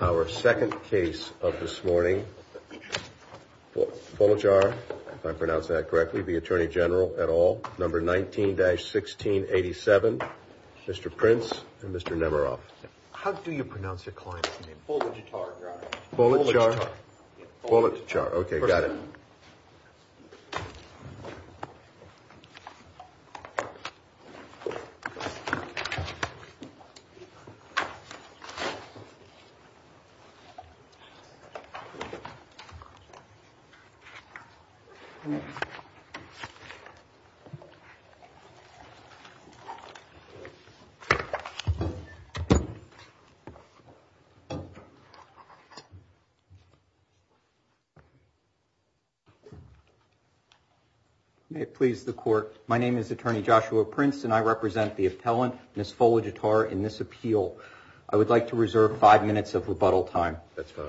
Our second case of this morning, Folajar, if I pronounce that correctly, the Attorney General at all, number 19-1687, Mr. Prince and Mr. Nemerov. How do you pronounce your client's name? Folajtar, Your Honor. Folajtar? Folajtar. Okay, got it. May it please the Court, my name is Attorney Joshua Prince and I represent the appellant, Ms. Folajtar, in this appeal. I would like to reserve five minutes of rebuttal time. That's fine.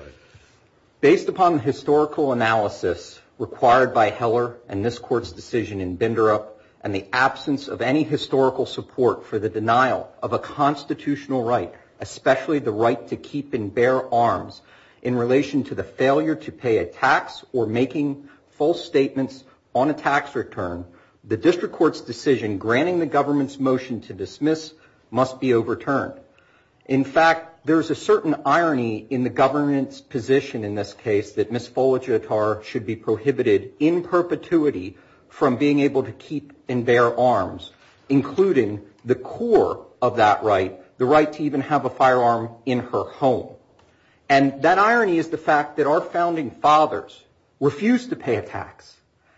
Based upon the historical analysis required by Heller and this Court's decision in Binderup, and the absence of any historical support for the denial of a constitutional right, especially the right to keep and bear arms in relation to the failure to pay a tax or making false statements on a tax return, the district court's decision granting the government's motion to dismiss must be overturned. In fact, there's a certain irony in the government's position in this case that Ms. Folajtar should be prohibited in perpetuity from being able to keep and bear arms, including the core of that right, the right to even have a firearm in her home. And that irony is the fact that our founding fathers refused to pay a tax.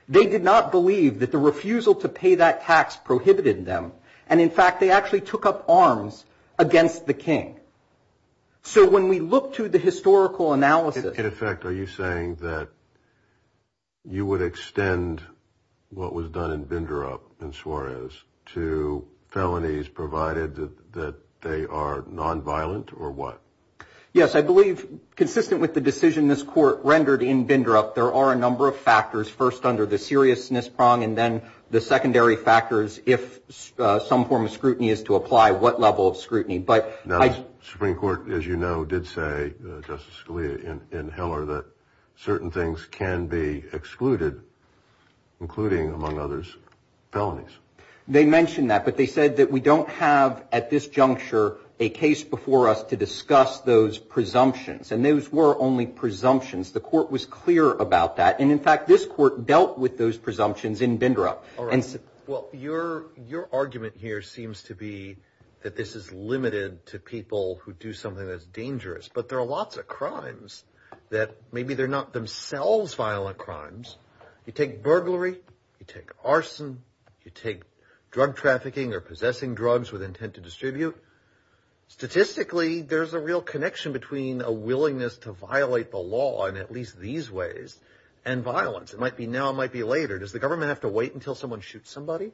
They did not believe that the refusal to pay that tax prohibited them. And, in fact, they actually took up arms against the king. So when we look to the historical analysis. In effect, are you saying that you would extend what was done in Binderup and Suarez to felonies, provided that they are nonviolent or what? Yes, I believe consistent with the decision this Court rendered in Binderup, there are a number of factors, first under the seriousness prong, and then the secondary factors if some form of scrutiny is to apply, what level of scrutiny. But the Supreme Court, as you know, did say, Justice Scalia and Hiller, that certain things can be excluded, including, among others, felonies. They mentioned that, but they said that we don't have at this juncture a case before us to discuss those presumptions. And those were only presumptions. The Court was clear about that. And, in fact, this Court dealt with those presumptions in Binderup. All right. Well, your argument here seems to be that this is limited to people who do something that's dangerous. But there are lots of crimes that maybe they're not themselves violent crimes. You take burglary. You take arson. You take drug trafficking or possessing drugs with intent to distribute. Statistically, there's a real connection between a willingness to violate the law in at least these ways and violence. It might be now. It might be later. Does the government have to wait until someone shoots somebody?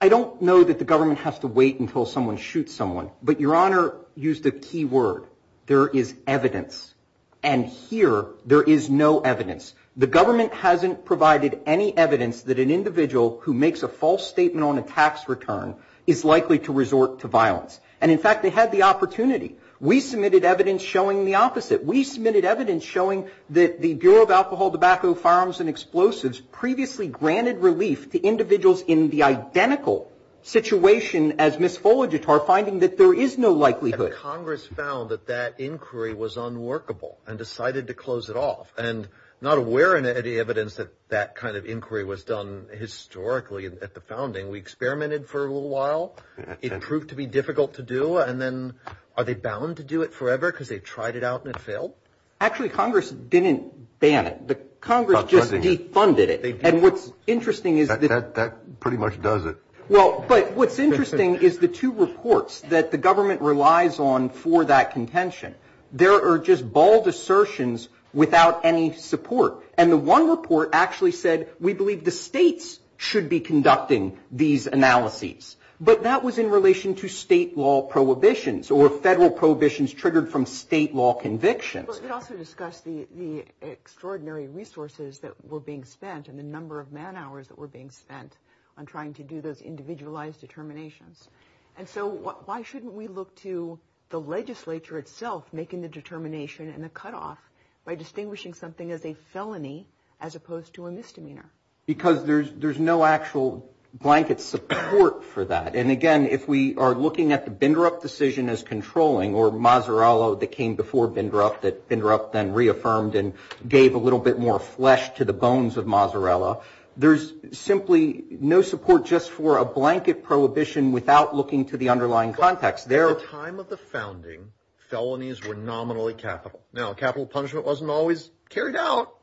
I don't know that the government has to wait until someone shoots someone. But Your Honor used a key word. There is evidence. And here, there is no evidence. The government hasn't provided any evidence that an individual who makes a false statement on a tax return is likely to resort to violence. And, in fact, they had the opportunity. We submitted evidence showing the opposite. We submitted evidence showing that the Bureau of Alcohol, Tobacco, Firearms, and Explosives previously granted relief to individuals in the identical situation as Ms. Fuligitar, finding that there is no likelihood. And Congress found that that inquiry was unworkable and decided to close it off. And not aware of any evidence that that kind of inquiry was done historically at the founding, we experimented for a little while. It proved to be difficult to do. And then are they bound to do it forever because they tried it out and it failed? Actually, Congress didn't ban it. Congress just defunded it. And what's interesting is that. That pretty much does it. Well, but what's interesting is the two reports that the government relies on for that contention. There are just bold assertions without any support. And the one report actually said we believe the states should be conducting these analyses. But that was in relation to state law prohibitions or federal prohibitions triggered from state law convictions. But we also discussed the extraordinary resources that were being spent and the number of man hours that were being spent on trying to do those individualized determinations. And so why shouldn't we look to the legislature itself making the determination and the cutoff by distinguishing something as a felony as opposed to a misdemeanor? Because there's no actual blanket support for that. And, again, if we are looking at the Bindrup decision as controlling or Mazzarella that came before Bindrup that Bindrup then reaffirmed and gave a little bit more flesh to the bones of Mazzarella, there's simply no support just for a blanket prohibition without looking to the underlying context. At the time of the founding, felonies were nominally capital. Now, capital punishment wasn't always carried out.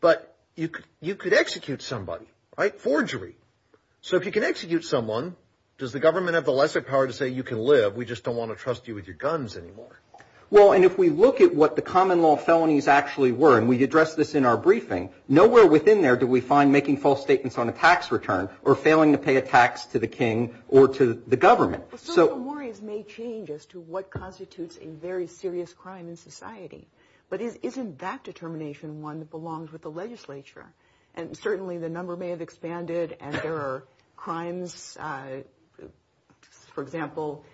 But you could execute somebody, right? Forgery. So if you can execute someone, does the government have the lesser power to say you can live? We just don't want to trust you with your guns anymore. Well, and if we look at what the common law felonies actually were, and we addressed this in our briefing, nowhere within there do we find making false statements on a tax return or failing to pay a tax to the king or to the government. Social memories may change as to what constitutes a very serious crime in society. But isn't that determination one that belongs with the legislature? And certainly the number may have expanded and there are crimes, for example,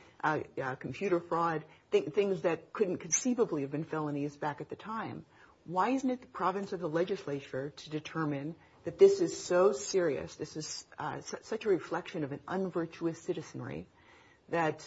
computer fraud, things that couldn't conceivably have been felonies back at the time. Why isn't it the province of the legislature to determine that this is so serious, this is such a reflection of an unvirtuous citizenry, that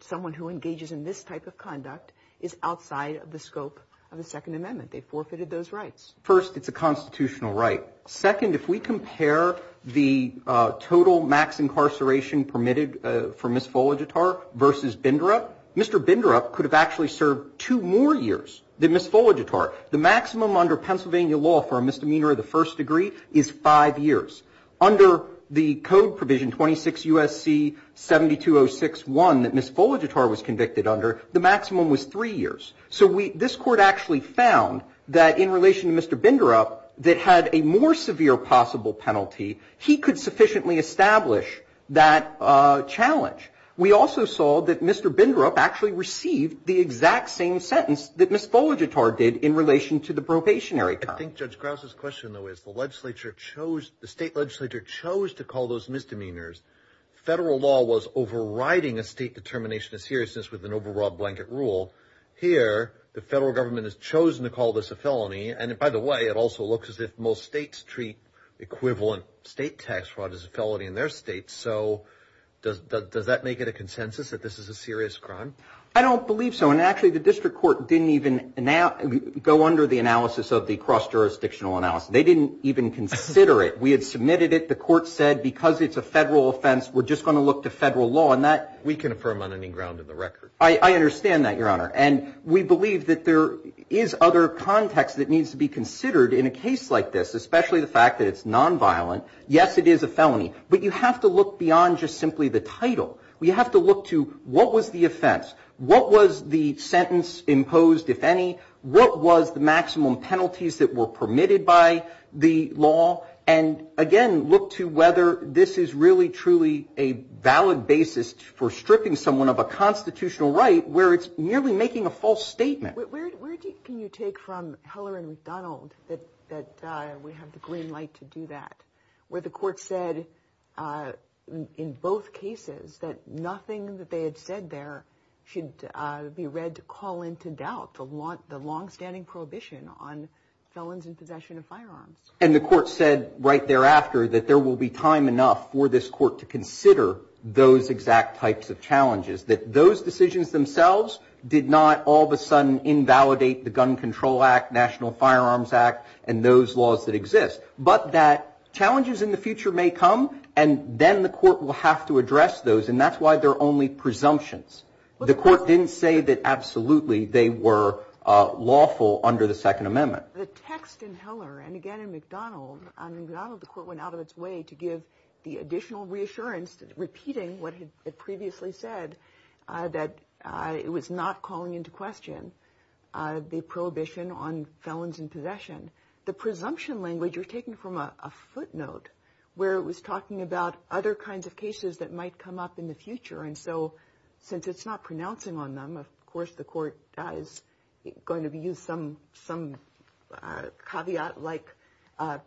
someone who engages in this type of conduct is outside of the scope of the Second Amendment? They forfeited those rights. First, it's a constitutional right. Second, if we compare the total max incarceration permitted for Miss Folagetar versus Bindrup, Mr. Bindrup could have actually served two more years than Miss Folagetar. The maximum under Pennsylvania law for a misdemeanor of the first degree is five years. Under the code provision 26 U.S.C. 72061 that Miss Folagetar was convicted under, the maximum was three years. So this Court actually found that in relation to Mr. Bindrup, that had a more severe possible penalty, he could sufficiently establish that challenge. We also saw that Mr. Bindrup actually received the exact same sentence that Miss Folagetar did in relation to the probationary time. I think Judge Krause's question, though, is the legislature chose, the state legislature chose to call those misdemeanors. Federal law was overriding a state determination of seriousness with an overwrought blanket rule. Here, the federal government has chosen to call this a felony, and by the way, it also looks as if most states treat equivalent state tax fraud as a felony in their states. So does that make it a consensus that this is a serious crime? I don't believe so. And actually, the district court didn't even go under the analysis of the cross-jurisdictional analysis. They didn't even consider it. We had submitted it. The court said because it's a federal offense, we're just going to look to federal law. We can affirm on any ground in the record. I understand that, Your Honor. And we believe that there is other context that needs to be considered in a case like this, especially the fact that it's nonviolent. Yes, it is a felony. But you have to look beyond just simply the title. We have to look to what was the offense? What was the sentence imposed, if any? What was the maximum penalties that were permitted by the law? And, again, look to whether this is really, truly a valid basis for stripping someone of a constitutional right where it's nearly making a false statement. Where can you take from Heller and McDonald that we have the green light to do that, where the court said in both cases that nothing that they had said there should be read to call into doubt the longstanding prohibition on felons in possession of firearms? And the court said right thereafter that there will be time enough for this court to consider those exact types of challenges, that those decisions themselves did not all of a sudden invalidate the Gun Control Act, National Firearms Act, and those laws that exist. But that challenges in the future may come, and then the court will have to address those, and that's why they're only presumptions. The court didn't say that absolutely they were lawful under the Second Amendment. The text in Heller and, again, in McDonald, in McDonald the court went out of its way to give the additional reassurance, repeating what it previously said, that it was not calling into question the prohibition on felons in possession. The presumption language you're taking from a footnote, where it was talking about other kinds of cases that might come up in the future, and so since it's not pronouncing on them, of course the court is going to use some caveat-like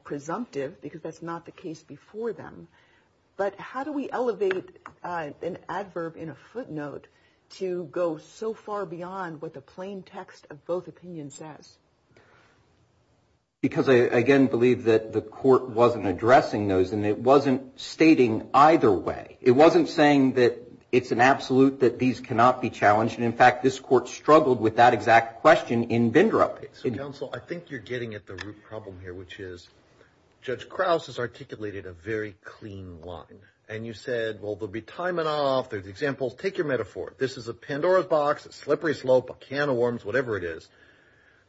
presumptive, because that's not the case before them. But how do we elevate an adverb in a footnote to go so far beyond what the plain text of both opinions says? Because I, again, believe that the court wasn't addressing those, and it wasn't stating either way. It wasn't saying that it's an absolute that these cannot be challenged, and, in fact, this court struggled with that exact question in Bindrup. So, counsel, I think you're getting at the root problem here, which is Judge Krause has articulated a very clean line, and you said, well, there'll be time enough, there's examples. Take your metaphor. This is a Pandora's box, a slippery slope, a can of worms, whatever it is.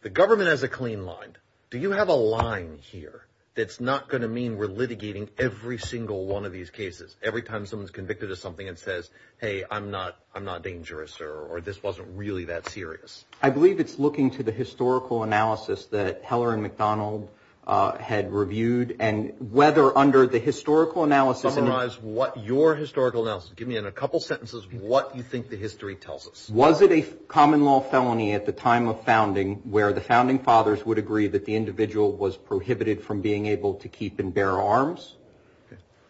The government has a clean line. Do you have a line here that's not going to mean we're litigating every single one of these cases, every time someone's convicted of something and says, hey, I'm not dangerous, or this wasn't really that serious? I believe it's looking to the historical analysis that Heller and McDonald had reviewed, and whether under the historical analysis. Summarize what your historical analysis. Give me a couple sentences of what you think the history tells us. Was it a common law felony at the time of founding where the founding fathers would agree that the individual was prohibited from being able to keep and bear arms?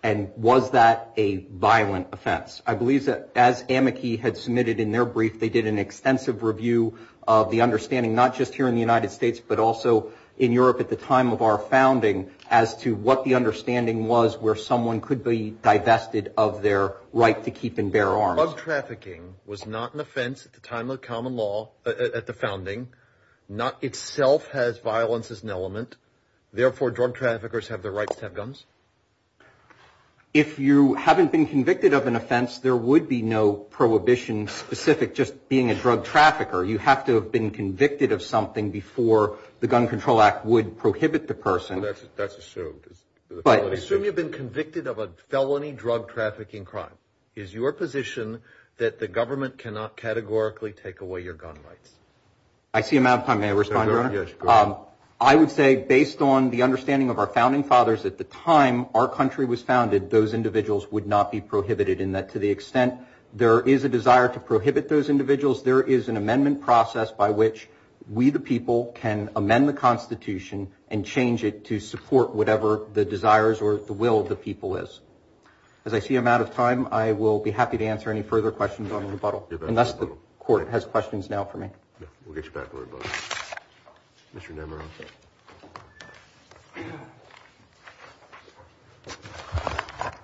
And was that a violent offense? I believe that as Amici had submitted in their brief, they did an extensive review of the understanding, not just here in the United States, but also in Europe at the time of our founding, as to what the understanding was where someone could be divested of their right to keep and bear arms. Drug trafficking was not an offense at the time of the common law, at the founding. Not itself has violence as an element. Therefore, drug traffickers have the right to have guns? If you haven't been convicted of an offense, there would be no prohibition specific just being a drug trafficker. You have to have been convicted of something before the Gun Control Act would prohibit the person. That's assumed. Assume you've been convicted of a felony drug trafficking crime. Is your position that the government cannot categorically take away your gun rights? I see a matter of time. May I respond, Your Honor? Yes, go ahead. I would say based on the understanding of our founding fathers at the time our country was founded, those individuals would not be prohibited in that to the extent there is a desire to prohibit those individuals, there is an amendment process by which we the people can amend the Constitution and change it to support whatever the desires or the will of the people is. As I see a matter of time, I will be happy to answer any further questions on rebuttal. Unless the Court has questions now for me. We'll get you back to rebuttal. Mr. Nemeroff.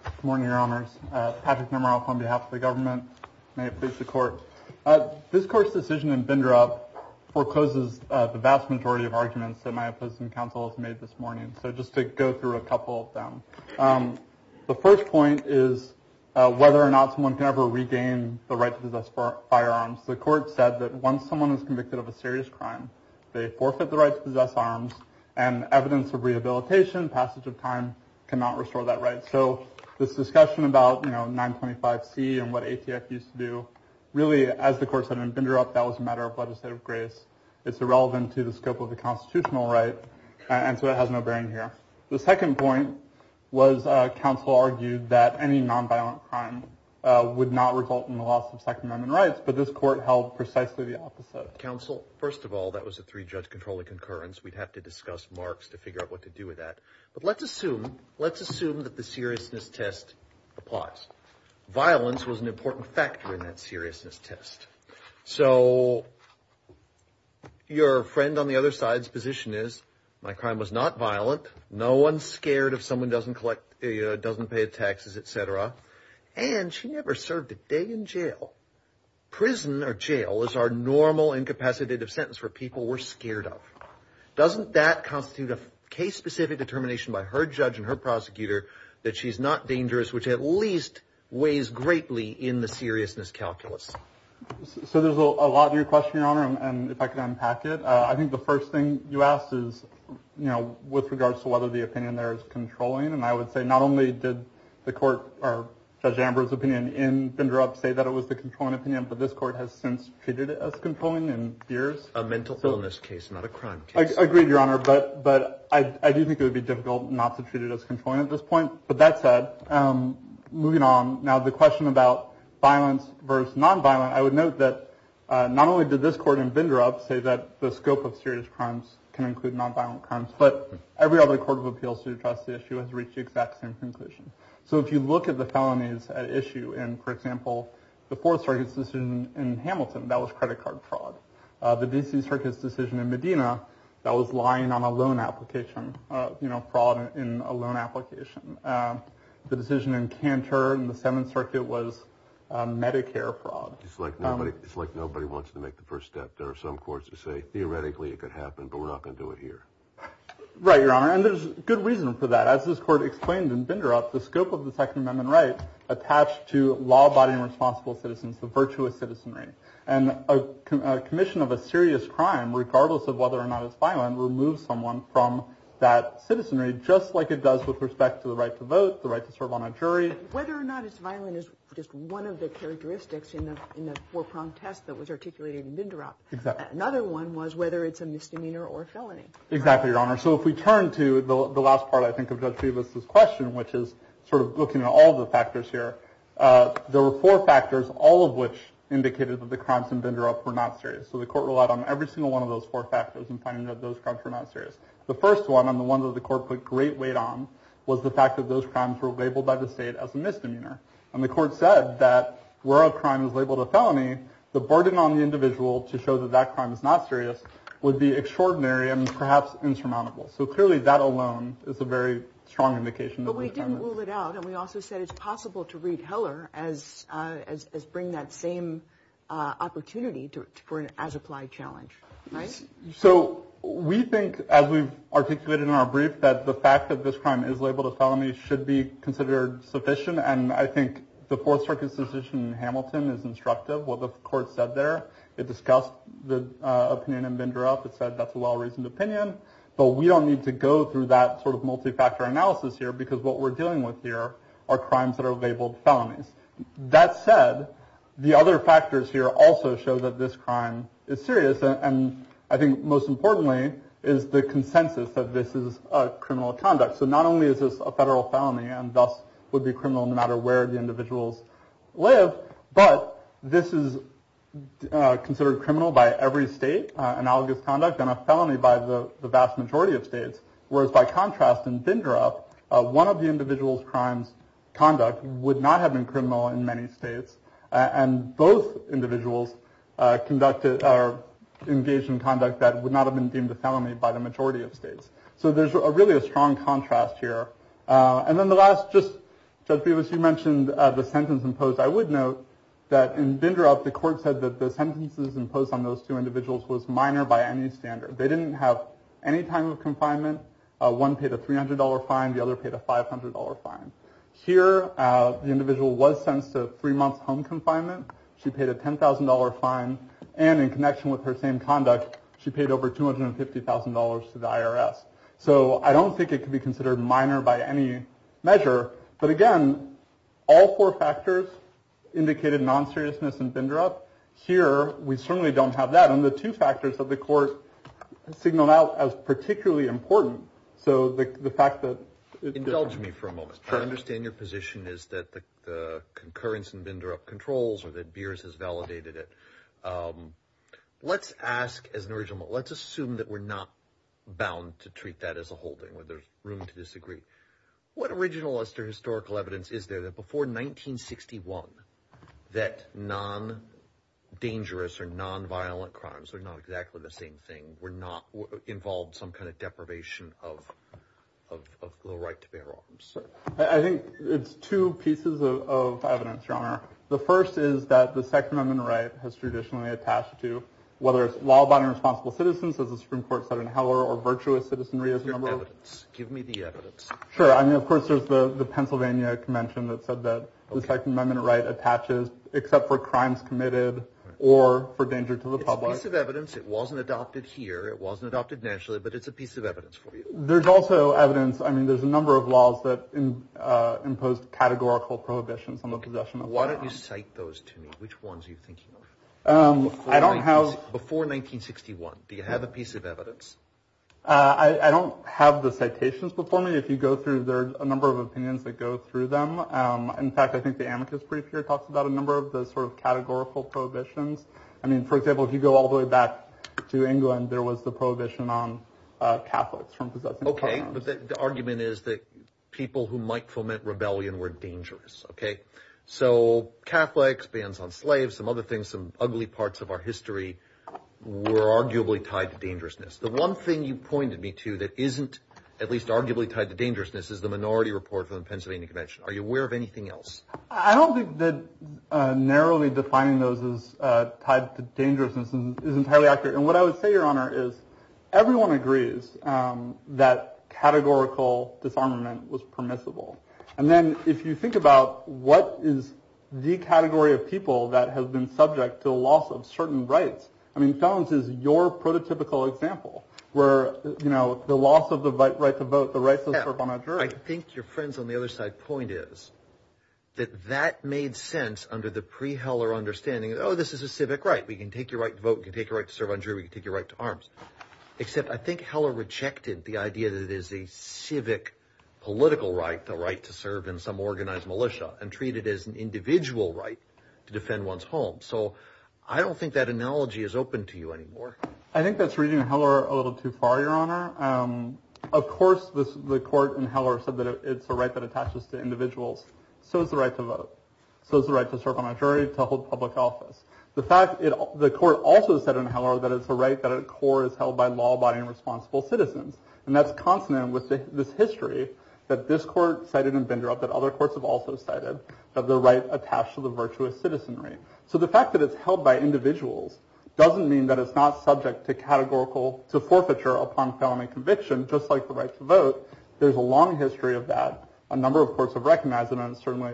Good morning, Your Honors. Patrick Nemeroff on behalf of the government. May it please the Court. This Court's decision in Bindrup forecloses the vast majority of arguments that my opposing counsel has made this morning. So just to go through a couple of them. The first point is whether or not someone can ever regain the right to possess firearms. The Court said that once someone is convicted of a serious crime, they forfeit the right to possess arms and evidence of rehabilitation, passage of time cannot restore that right. So this discussion about, you know, 925C and what ATF used to do, really, as the Court said in Bindrup, that was a matter of legislative grace. It's irrelevant to the scope of the constitutional right. And so it has no bearing here. The second point was counsel argued that any nonviolent crime would not result in the loss of Second Amendment rights. But this Court held precisely the opposite. Counsel, first of all, that was a three-judge controlling concurrence. We'd have to discuss marks to figure out what to do with that. But let's assume, let's assume that the seriousness test applies. Violence was an important factor in that seriousness test. So your friend on the other side's position is, my crime was not violent. No one's scared if someone doesn't collect, doesn't pay taxes, et cetera. And she never served a day in jail. Prison or jail is our normal incapacitative sentence for people we're scared of. Doesn't that constitute a case-specific determination by her judge and her prosecutor that she's not dangerous, which at least weighs greatly in the seriousness calculus? So there's a lot to your question, Your Honor, and if I could unpack it. I think the first thing you asked is, you know, with regards to whether the opinion there is controlling. And I would say not only did the court or Judge Amber's opinion in VendorUp say that it was the controlling opinion, but this court has since treated it as controlling in years. A mental illness case, not a crime case. I agree, Your Honor, but I do think it would be difficult not to treat it as controlling at this point. But that said, moving on, now the question about violence versus nonviolent, I would note that not only did this court in VendorUp say that the scope of serious crimes can include nonviolent crimes, but every other court of appeals to address the issue has reached the exact same conclusion. So if you look at the felonies at issue in, for example, the Fourth Circuit's decision in Hamilton, that was credit card fraud. The D.C. Circuit's decision in Medina, that was lying on a loan application, you know, fraud in a loan application. The decision in Cantor in the Seventh Circuit was Medicare fraud. It's like nobody wants to make the first step. There are some courts that say theoretically it could happen, but we're not going to do it here. Right, Your Honor, and there's good reason for that. As this court explained in VendorUp, the scope of the Second Amendment right attached to law-abiding responsible citizens, the virtuous citizenry, and a commission of a serious crime, regardless of whether or not it's violent, removes someone from that citizenry just like it does with respect to the right to vote, the right to serve on a jury. Whether or not it's violent is just one of the characteristics in the four-pronged test that was articulated in VendorUp. Exactly. Another one was whether it's a misdemeanor or a felony. Exactly, Your Honor. So if we turn to the last part, I think, of Judge Peebles' question, which is sort of looking at all the factors here, there were four factors, all of which indicated that the crimes in VendorUp were not serious. So the court relied on every single one of those four factors in finding that those crimes were not serious. The first one, and the one that the court put great weight on, was the fact that those crimes were labeled by the state as a misdemeanor. And the court said that where a crime is labeled a felony, the burden on the individual to show that that crime is not serious would be extraordinary and perhaps insurmountable. So clearly, that alone is a very strong indication. But we didn't rule it out, and we also said it's possible to read Heller as bringing that same opportunity for an as-applied challenge. Right? So we think, as we've articulated in our brief, that the fact that this crime is labeled a felony should be considered sufficient. And I think the Fourth Circuit's decision in Hamilton is instructive. What the court said there, it discussed the opinion in VendorUp. It said that's a well-reasoned opinion. But we don't need to go through that sort of multifactor analysis here, because what we're dealing with here are crimes that are labeled felonies. That said, the other factors here also show that this crime is serious. And I think most importantly, is the consensus that this is a criminal conduct. So not only is this a federal felony and thus would be criminal no matter where the individuals live, but this is considered criminal by every state, analogous conduct and a felony by the vast majority of states. Whereas by contrast, in VendorUp, one of the individual's crimes conduct would not have been criminal in many states. And both individuals conducted or engaged in conduct that would not have been deemed a felony by the majority of states. So there's a really a strong contrast here. And then the last just judge, because you mentioned the sentence imposed. I would note that in VendorUp, the court said that the sentences imposed on those two individuals was minor by any standard. They didn't have any time of confinement. One paid a three hundred dollar fine. The other paid a five hundred dollar fine. Here, the individual was sentenced to three months home confinement. She paid a ten thousand dollar fine. And in connection with her same conduct, she paid over two hundred and fifty thousand dollars to the IRS. So I don't think it could be considered minor by any measure. But again, all four factors indicated non seriousness in VendorUp. Here, we certainly don't have that. And the two factors that the court signaled out as particularly important. So the fact that. Indulge me for a moment. I understand your position is that the concurrence in VendorUp controls or that Beers has validated it. Let's ask as an original, let's assume that we're not bound to treat that as a holding where there's room to disagree. What originalist or historical evidence is there that before nineteen sixty one that non dangerous or non violent crimes are not exactly the same thing? Were not involved some kind of deprivation of the right to bear arms. So I think it's two pieces of evidence, your honor. The first is that the Second Amendment right has traditionally attached to whether it's law abiding responsible citizens, as the Supreme Court said in Heller, or virtuous citizenry is evidence. Give me the evidence. Sure. I mean, of course, there's the Pennsylvania Convention that said that the Second Amendment right attaches except for crimes committed or for danger to the public. It's a piece of evidence. It wasn't adopted here. It wasn't adopted nationally, but it's a piece of evidence for you. There's also evidence. I mean, there's a number of laws that imposed categorical prohibitions on the possession. Why don't you cite those to me? Which ones are you thinking of? I don't have before nineteen sixty one. Do you have a piece of evidence? I don't have the citations before me. If you go through, there are a number of opinions that go through them. In fact, I think the amicus brief here talks about a number of those sort of categorical prohibitions. I mean, for example, if you go all the way back to England, there was the prohibition on Catholics from possessing. OK, but the argument is that people who might foment rebellion were dangerous. OK, so Catholics, bans on slaves, some other things, some ugly parts of our history were arguably tied to dangerousness. The one thing you pointed me to that isn't at least arguably tied to dangerousness is the minority report from the Pennsylvania Convention. Are you aware of anything else? I don't think that narrowly defining those is tied to dangerousness and isn't highly accurate. And what I would say, Your Honor, is everyone agrees that categorical disarmament was permissible. And then if you think about what is the category of people that have been subject to a loss of certain rights. I mean, Jones is your prototypical example where, you know, the loss of the right to vote, the right to vote on a jury. I think your friends on the other side point is that that made sense under the pre Heller understanding. Oh, this is a civic right. We can take your right to vote. You take a right to serve on jury. We can take your right to arms, except I think Heller rejected the idea that it is a civic political right, the right to serve in some organized militia and treat it as an individual right to defend one's home. So I don't think that analogy is open to you anymore. I think that's reading Heller a little too far. Your Honor, of course, the court in Heller said that it's a right that attaches to individuals. So is the right to vote. So is the right to serve on a jury, to hold public office. The fact that the court also said in Heller that it's a right that at core is held by law abiding and responsible citizens. And that's consonant with this history that this court cited and vendor up that other courts have also cited of the right attached to the virtuous citizenry. So the fact that it's held by individuals doesn't mean that it's not subject to categorical forfeiture upon felony conviction, just like the right to vote. There's a long history of that. A number of courts have recognized it in a certain way.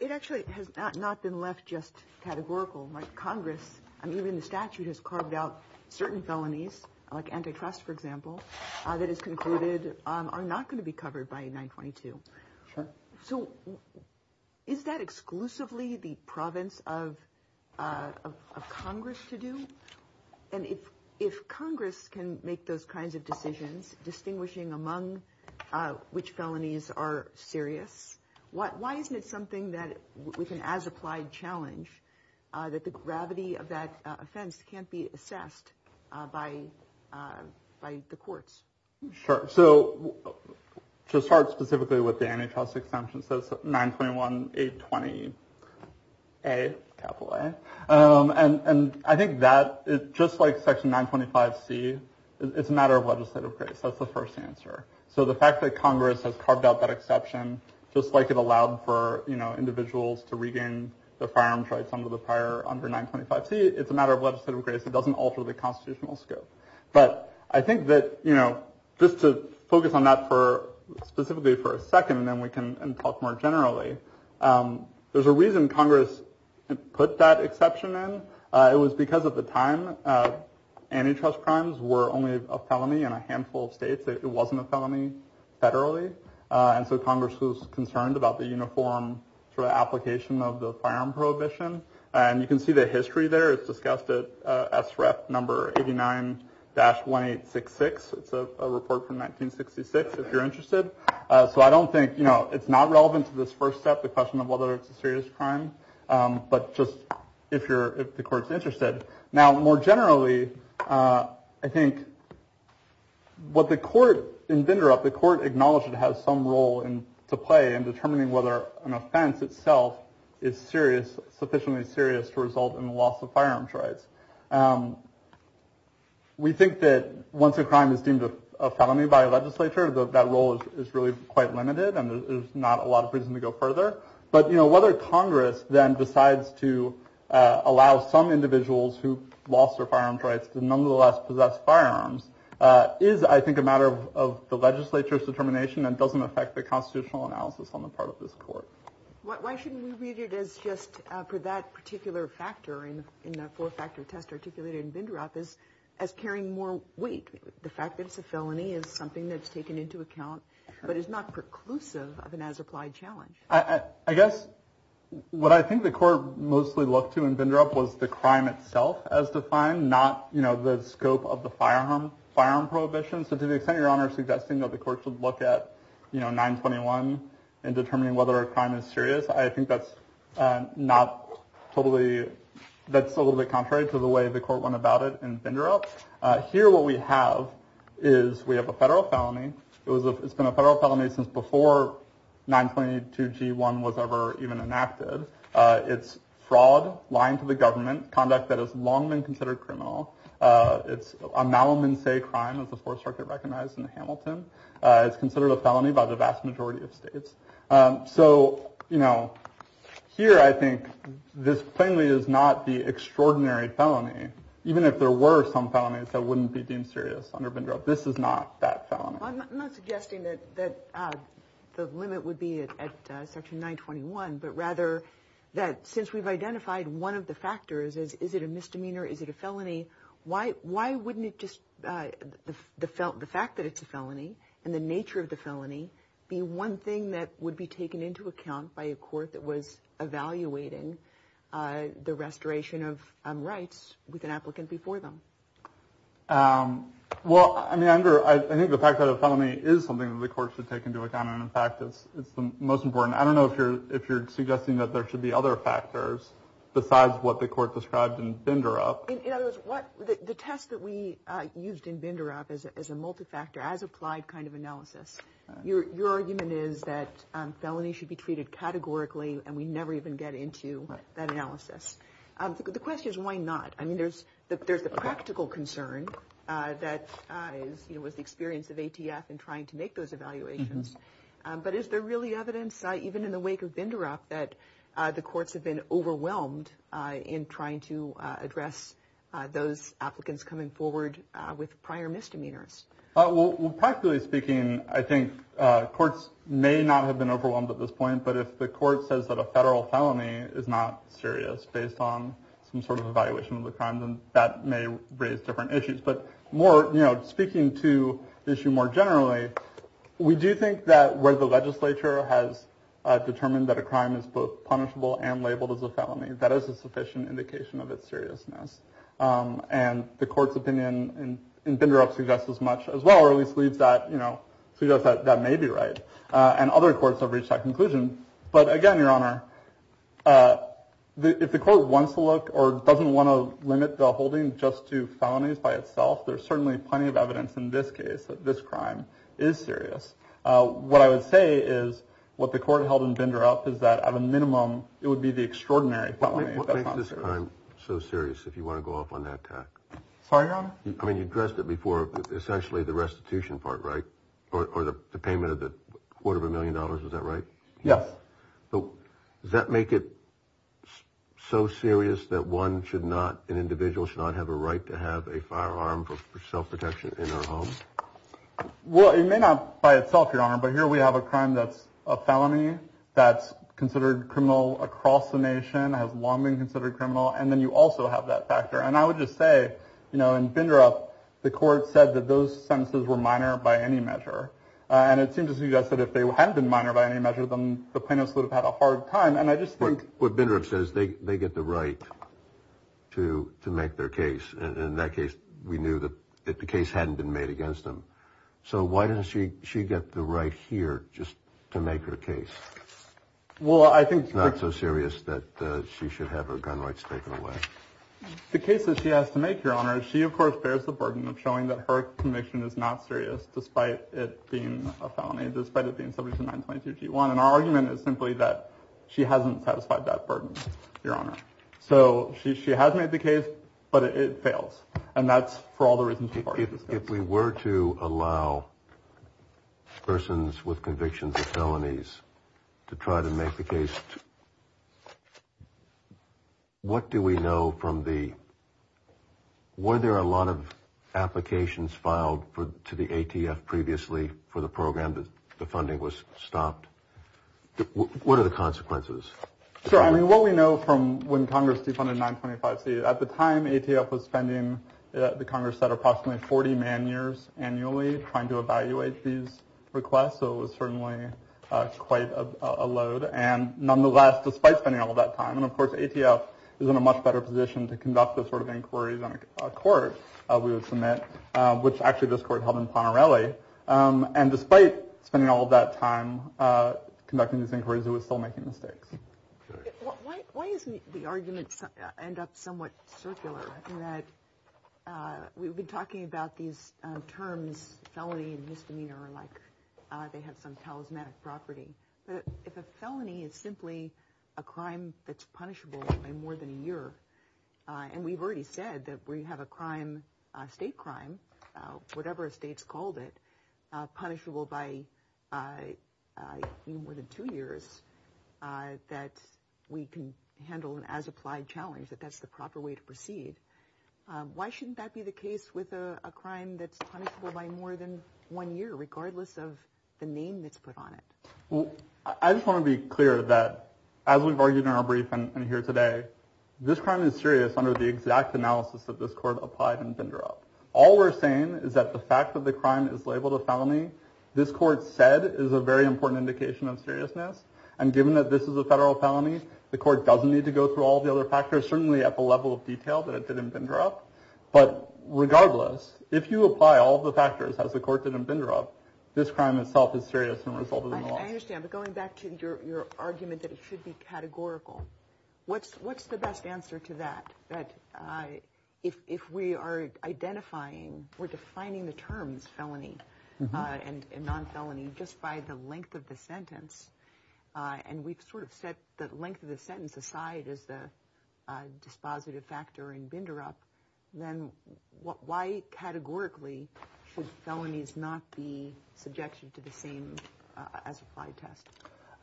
It actually has not been left just categorical by Congress. And even the statute has carved out certain felonies like antitrust, for example, that is concluded are not going to be covered by 922. So is that exclusively the province of Congress to do? And if if Congress can make those kinds of decisions, distinguishing among which felonies are serious, what why isn't it something that we can as applied challenge that the gravity of that offense can't be assessed by by the courts? Sure. So just start specifically with the antitrust exemptions. Nine point one, eight, 20. A capital. And I think that just like Section 925 C, it's a matter of legislative grace. That's the first answer. So the fact that Congress has carved out that exception, just like it allowed for individuals to regain the firearms rights under the prior under 925 C. It's a matter of legislative grace. It doesn't alter the constitutional scope. But I think that, you know, just to focus on that for specifically for a second and then we can talk more generally. There's a reason Congress put that exception in. It was because at the time antitrust crimes were only a felony in a handful of states. It wasn't a felony federally. And so Congress was concerned about the uniform application of the firearm prohibition. And you can see the history there. It's discussed at SREP number eighty nine dash one eight six six. It's a report from 1966, if you're interested. So I don't think, you know, it's not relevant to this first step, the question of whether it's a serious crime. But just if you're if the court's interested now, more generally, I think. What the court inventor of the court acknowledged it has some role to play in determining whether an offense itself is serious, sufficiently serious to result in the loss of firearms rights. We think that once a crime is deemed a felony by a legislature, that role is really quite limited and there's not a lot of reason to go further. But, you know, whether Congress then decides to allow some individuals who lost their firearms rights to nonetheless possess firearms is, I think, a matter of the legislature's determination and doesn't affect the constitutional analysis on the part of this court. Why shouldn't we read it as just for that particular factor? And in that four factor test articulated in Bindrup is as carrying more weight. The fact that it's a felony is something that's taken into account, but it's not preclusive of an as applied challenge. I guess what I think the court mostly looked to in Bindrup was the crime itself as defined, not, you know, the scope of the firearm firearm prohibition. So to the extent your honor, suggesting that the courts would look at, you know, 921 and determining whether a crime is serious. I think that's not totally. That's a little bit contrary to the way the court went about it in Bindrup. Here, what we have is we have a federal felony. It's been a federal felony since before 922 G1 was ever even enacted. It's fraud, lying to the government conduct that has long been considered criminal. It's a Malamin say crime of the Fourth Circuit recognized in the Hamilton. It's considered a felony by the vast majority of states. So, you know, here, I think this plainly is not the extraordinary felony. Even if there were some felonies that wouldn't be deemed serious under Bindrup, this is not that felony. I'm not suggesting that that the limit would be at such a 921, but rather that since we've identified one of the factors is, is it a misdemeanor? Is it a felony? Why? Why wouldn't it just the felt the fact that it's a felony and the nature of the felony be one thing that would be taken into account by a court that was evaluating the restoration of rights with an applicant before them? Well, I mean, I think the fact that a felony is something that the court should take into account. And in fact, it's the most important. I don't know if you're if you're suggesting that there should be other factors besides what the court described in Bindrup. In other words, what the test that we used in Bindrup is a multifactor as applied kind of analysis. Your argument is that felony should be treated categorically. And we never even get into that analysis. The question is, why not? I mean, there's there's a practical concern that was the experience of ATF and trying to make those evaluations. But is there really evidence even in the wake of Bindrup that the courts have been overwhelmed in trying to address those applicants coming forward with prior misdemeanors? Well, practically speaking, I think courts may not have been overwhelmed at this point. But if the court says that a federal felony is not serious based on some sort of evaluation of the crime, then that may raise different issues. But more speaking to the issue more generally, we do think that where the legislature has determined that a crime is both punishable and labeled as a felony, that is a sufficient indication of its seriousness. And the court's opinion in Bindrup suggests as much as well. Or at least leads that, you know, that may be right. And other courts have reached that conclusion. But again, your honor, if the court wants to look or doesn't want to limit the holding just to felonies by itself, there's certainly plenty of evidence in this case that this crime is serious. What I would say is what the court held in Bindrup is that at a minimum, it would be the extraordinary. But what makes this crime so serious if you want to go off on that? Sorry, I mean, you addressed it before. Essentially the restitution part, right? Or the payment of the quarter of a million dollars. Is that right? Yes. Does that make it so serious that one should not? An individual should not have a right to have a firearm for self-protection in their home? Well, it may not by itself, your honor. But here we have a crime that's a felony that's considered criminal across the nation, has long been considered criminal. And then you also have that factor. And I would just say, you know, in Bindrup, the court said that those sentences were minor by any measure. And it seems to suggest that if they had been minor by any measure, then the plaintiffs would have had a hard time. And I just think what Bindrup says, they they get the right to to make their case. And in that case, we knew that the case hadn't been made against them. So why doesn't she she get the right here just to make her case? Well, I think it's not so serious that she should have her gun rights taken away. The case that she has to make your honor, she, of course, bears the burden of showing that her conviction is not serious, despite it being a felony, despite it being subject to 922 G1. And our argument is simply that she hasn't satisfied that burden, your honor. So she she has made the case, but it fails. And that's for all the reasons. If we were to allow persons with convictions of felonies to try to make the case. What do we know from the. Were there a lot of applications filed to the ATF previously for the program? The funding was stopped. What are the consequences? So, I mean, what we know from when Congress defunded 925 C at the time ATF was spending, the Congress set approximately 40 man years annually trying to evaluate these requests. So it was certainly quite a load. And nonetheless, despite spending all that time. And of course, ATF is in a much better position to conduct this sort of inquiry than a court. We would submit, which actually this court held in Panarelli. And despite spending all that time conducting these inquiries, it was still making mistakes. Why is the argument end up somewhat circular? We've been talking about these terms, felony and misdemeanor, like they have some charismatic property. But if a felony is simply a crime that's punishable by more than a year. And we've already said that we have a crime, a state crime, whatever a state's called it, punishable by more than two years, that we can handle as applied challenge, that that's the proper way to proceed. Why shouldn't that be the case with a crime that's punishable by more than one year, regardless of the name that's put on it? Well, I just want to be clear that as we've argued in our briefing here today, this crime is serious under the exact analysis that this court applied and vendor up. All we're saying is that the fact that the crime is labeled a felony, this court said, is a very important indication of seriousness. And given that this is a federal felony, the court doesn't need to go through all the other factors, certainly at the level of detail that it didn't bender up. But regardless, if you apply all the factors as the court didn't bender up, this crime itself is serious and resolvable. I understand. But going back to your argument that it should be categorical, what's what's the best answer to that? That if we are identifying, we're defining the terms felony and non felony just by the length of the sentence. And we've sort of set the length of the sentence aside as the dispositive factor and bender up. Then why categorically should felonies not be subjected to the same as a test?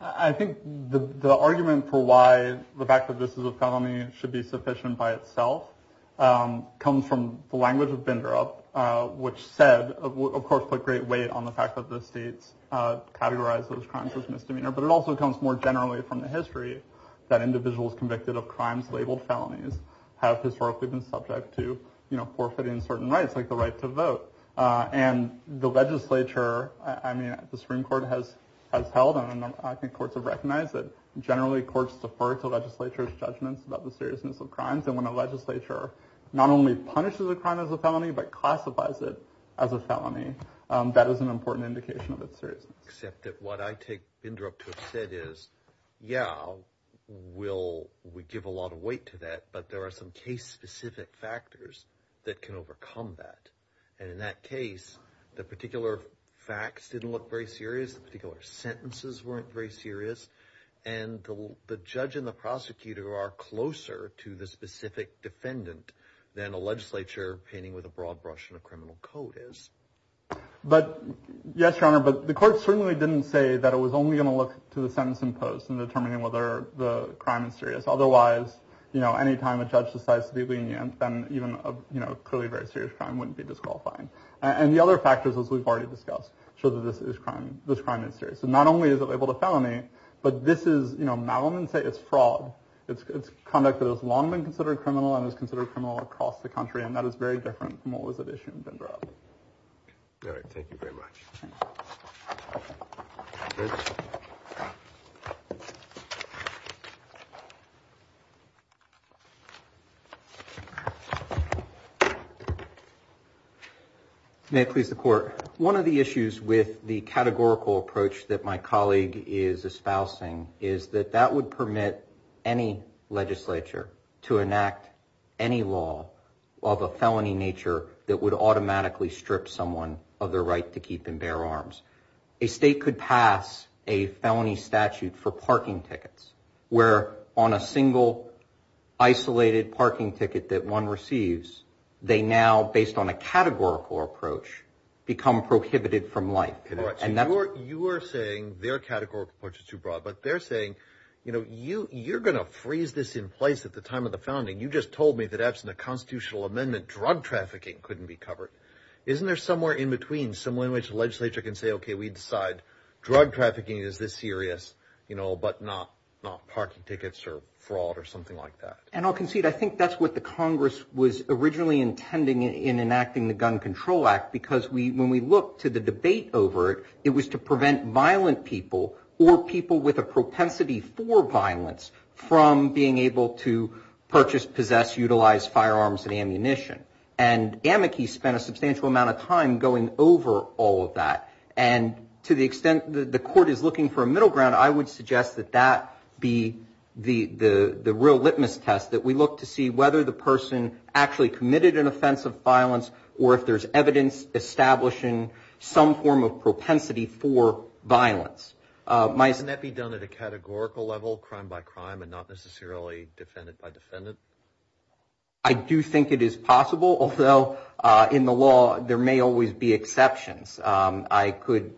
I think the argument for why the fact that this is a felony should be sufficient by itself comes from the language of vendor up, which said, of course, put great weight on the fact that the states categorize those crimes as misdemeanor. But it also comes more generally from the history that individuals convicted of crimes labeled felonies have historically been subject to, you know, forfeiting certain rights like the right to vote and the legislature. I mean, the Supreme Court has has held on. I think courts have recognized that generally courts defer to legislatures judgments about the seriousness of crimes. And when a legislature not only punishes a crime as a felony, but classifies it as a felony, that is an important indication of its seriousness. Except that what I take in Europe said is, yeah, we'll we give a lot of weight to that. But there are some case specific factors that can overcome that. And in that case, the particular facts didn't look very serious. The particular sentences weren't very serious. And the judge and the prosecutor are closer to the specific defendant than a legislature painting with a broad brush and a criminal code is. But, yes, your honor, but the court certainly didn't say that it was only going to look to the sentence in post and determining whether the crime is serious. Otherwise, you know, any time a judge decides to be lenient, then even a clearly very serious crime wouldn't be disqualifying. And the other factors, as we've already discussed, show that this is crime, this crime is serious. So not only is it able to felony, but this is, you know, Malvin say it's fraud. It's conduct that has long been considered criminal and is considered criminal across the country. And that is very different from what was at issue. All right. Thank you very much. One of the issues with the categorical approach that my colleague is espousing is that that would permit any legislature to enact any law of a felony nature that would automatically strip someone of their right to keep and bear arms. A state could pass a felony statute for parking tickets where on a single isolated parking ticket that one receives. They now, based on a categorical approach, become prohibited from life. And that's what you are saying. Their categorical approach is too broad. But they're saying, you know, you you're going to freeze this in place at the time of the founding. You just told me that absent a constitutional amendment, drug trafficking couldn't be covered. Isn't there somewhere in between somewhere in which the legislature can say, OK, we decide drug trafficking is this serious, you know, but not not parking tickets or fraud or something like that? And I'll concede, I think that's what the Congress was originally intending in enacting the Gun Control Act, because we when we look to the debate over it, it was to prevent violent people or people with a propensity for violence from being able to purchase, possess, utilize firearms and ammunition. And Amici spent a substantial amount of time going over all of that. And to the extent that the court is looking for a middle ground, I would suggest that that be the the real litmus test that we look to see whether the person actually committed an offensive violence or if there's evidence establishing some form of propensity for violence. Might that be done at a categorical level, crime by crime and not necessarily defendant by defendant? I do think it is possible, although in the law there may always be exceptions. I could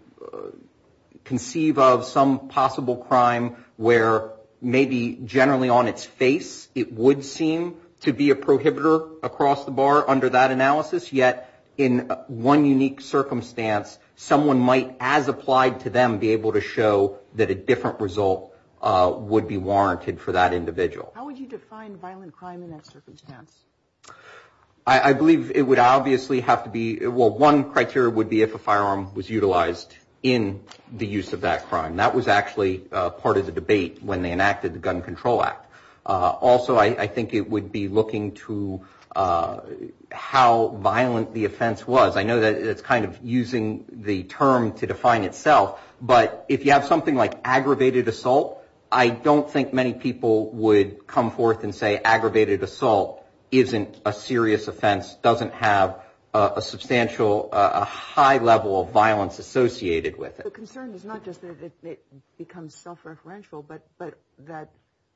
conceive of some possible crime where maybe generally on its face it would seem to be a prohibitor across the bar under that analysis. Yet in one unique circumstance, someone might, as applied to them, be able to show that a different result would be warranted for that individual. How would you define violent crime in that circumstance? I believe it would obviously have to be well, one criteria would be if a firearm was utilized in the use of that crime. That was actually part of the debate when they enacted the Gun Control Act. Also, I think it would be looking to how violent the offense was. I know that it's kind of using the term to define itself. But if you have something like aggravated assault, I don't think many people would come forth and say aggravated assault isn't a serious offense, doesn't have a substantial, a high level of violence associated with it. The concern is not just that it becomes self-referential, but that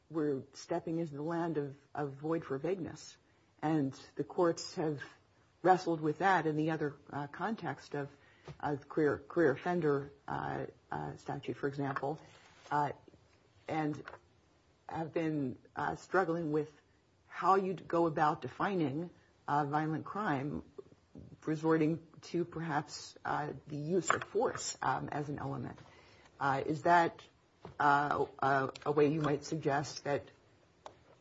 we're stepping into the land of void for vagueness. And the courts have wrestled with that in the other context of career offender statute, for example, and have been struggling with how you'd go about defining violent crime, resorting to perhaps the use of force as an element. Is that a way you might suggest that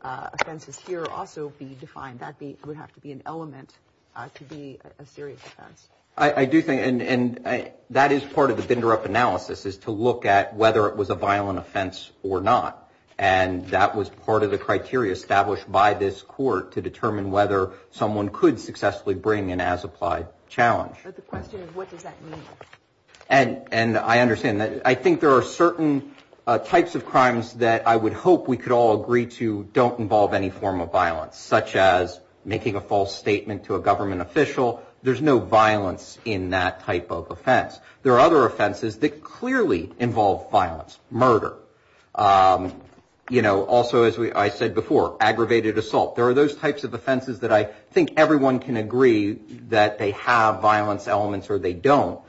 offenses here also be defined? That would have to be an element to be a serious offense. I do think, and that is part of the binder-up analysis, is to look at whether it was a violent offense or not. And that was part of the criteria established by this court to determine whether someone could successfully bring an as-applied challenge. But the question is, what does that mean? And I understand that. I think there are certain types of crimes that I would hope we could all agree to don't involve any form of violence, such as making a false statement to a government official. There's no violence in that type of offense. There are other offenses that clearly involve violence, murder. You know, also, as I said before, aggravated assault. There are those types of offenses that I think everyone can agree that they have violence elements or they don't.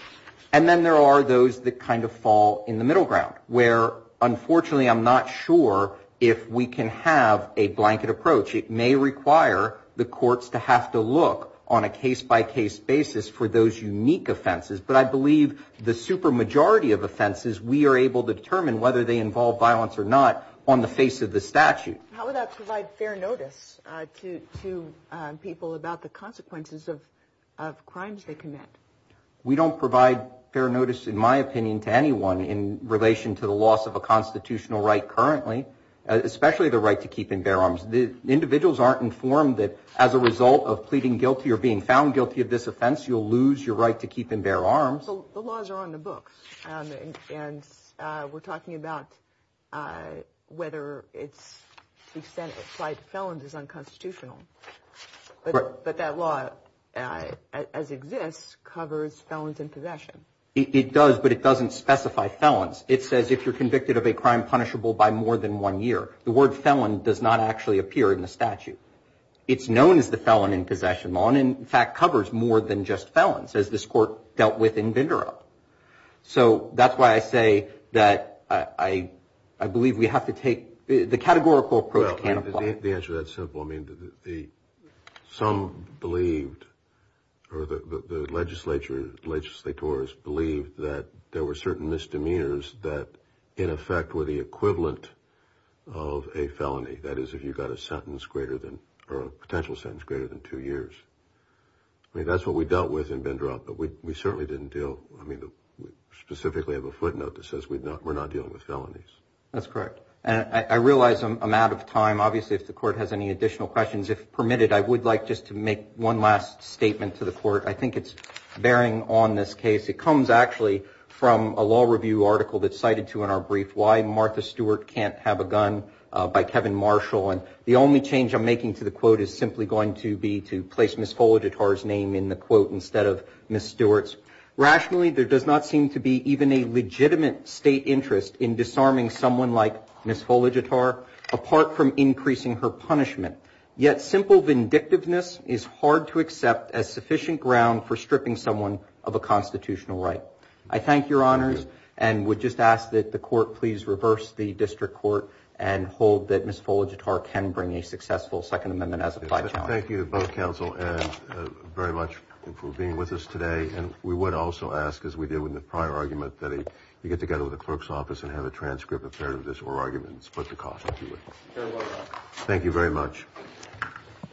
And then there are those that kind of fall in the middle ground, where, unfortunately, I'm not sure if we can have a blanket approach. It may require the courts to have to look on a case-by-case basis for those unique offenses. But I believe the supermajority of offenses, we are able to determine whether they involve violence or not on the face of the statute. How would that provide fair notice to people about the consequences of crimes they commit? We don't provide fair notice, in my opinion, to anyone in relation to the loss of a constitutional right currently, especially the right to keep and bear arms. Individuals aren't informed that as a result of pleading guilty or being found guilty of this offense, you'll lose your right to keep and bear arms. The laws are on the books. And we're talking about whether it's to the extent it's applied to felons is unconstitutional. But that law, as it exists, covers felons in possession. It does, but it doesn't specify felons. It says if you're convicted of a crime punishable by more than one year. The word felon does not actually appear in the statute. It's known as the felon in possession law and, in fact, covers more than just felons, as this court dealt with in Vindorup. So that's why I say that I believe we have to take the categorical approach can apply. The answer to that is simple. I mean, some believed or the legislature, legislators, believed that there were certain misdemeanors that, in effect, were the equivalent of a felony, that is, if you got a sentence greater than or a potential sentence greater than two years. I mean, that's what we dealt with in Vindorup. But we certainly didn't deal, I mean, specifically have a footnote that says we're not dealing with felonies. That's correct. And I realize I'm out of time. Obviously, if the court has any additional questions, if permitted, I would like just to make one last statement to the court. I think it's bearing on this case. It comes, actually, from a law review article that's cited to in our brief, Why Martha Stewart Can't Have a Gun by Kevin Marshall. And the only change I'm making to the quote is simply going to be to place Ms. Foligitar's name in the quote instead of Ms. Stewart's. Rationally, there does not seem to be even a legitimate state interest in disarming someone like Ms. Foligitar, apart from increasing her punishment. Yet simple vindictiveness is hard to accept as sufficient ground for stripping someone of a constitutional right. I thank your honors and would just ask that the court please reverse the district court and hold that Ms. Foligitar can bring a successful Second Amendment as applied. Thank you, both counsel, very much for being with us today. And we would also ask, as we did with the prior argument, that you get together with the clerk's office and have a transcript of this oral argument and split the cost. Thank you very much.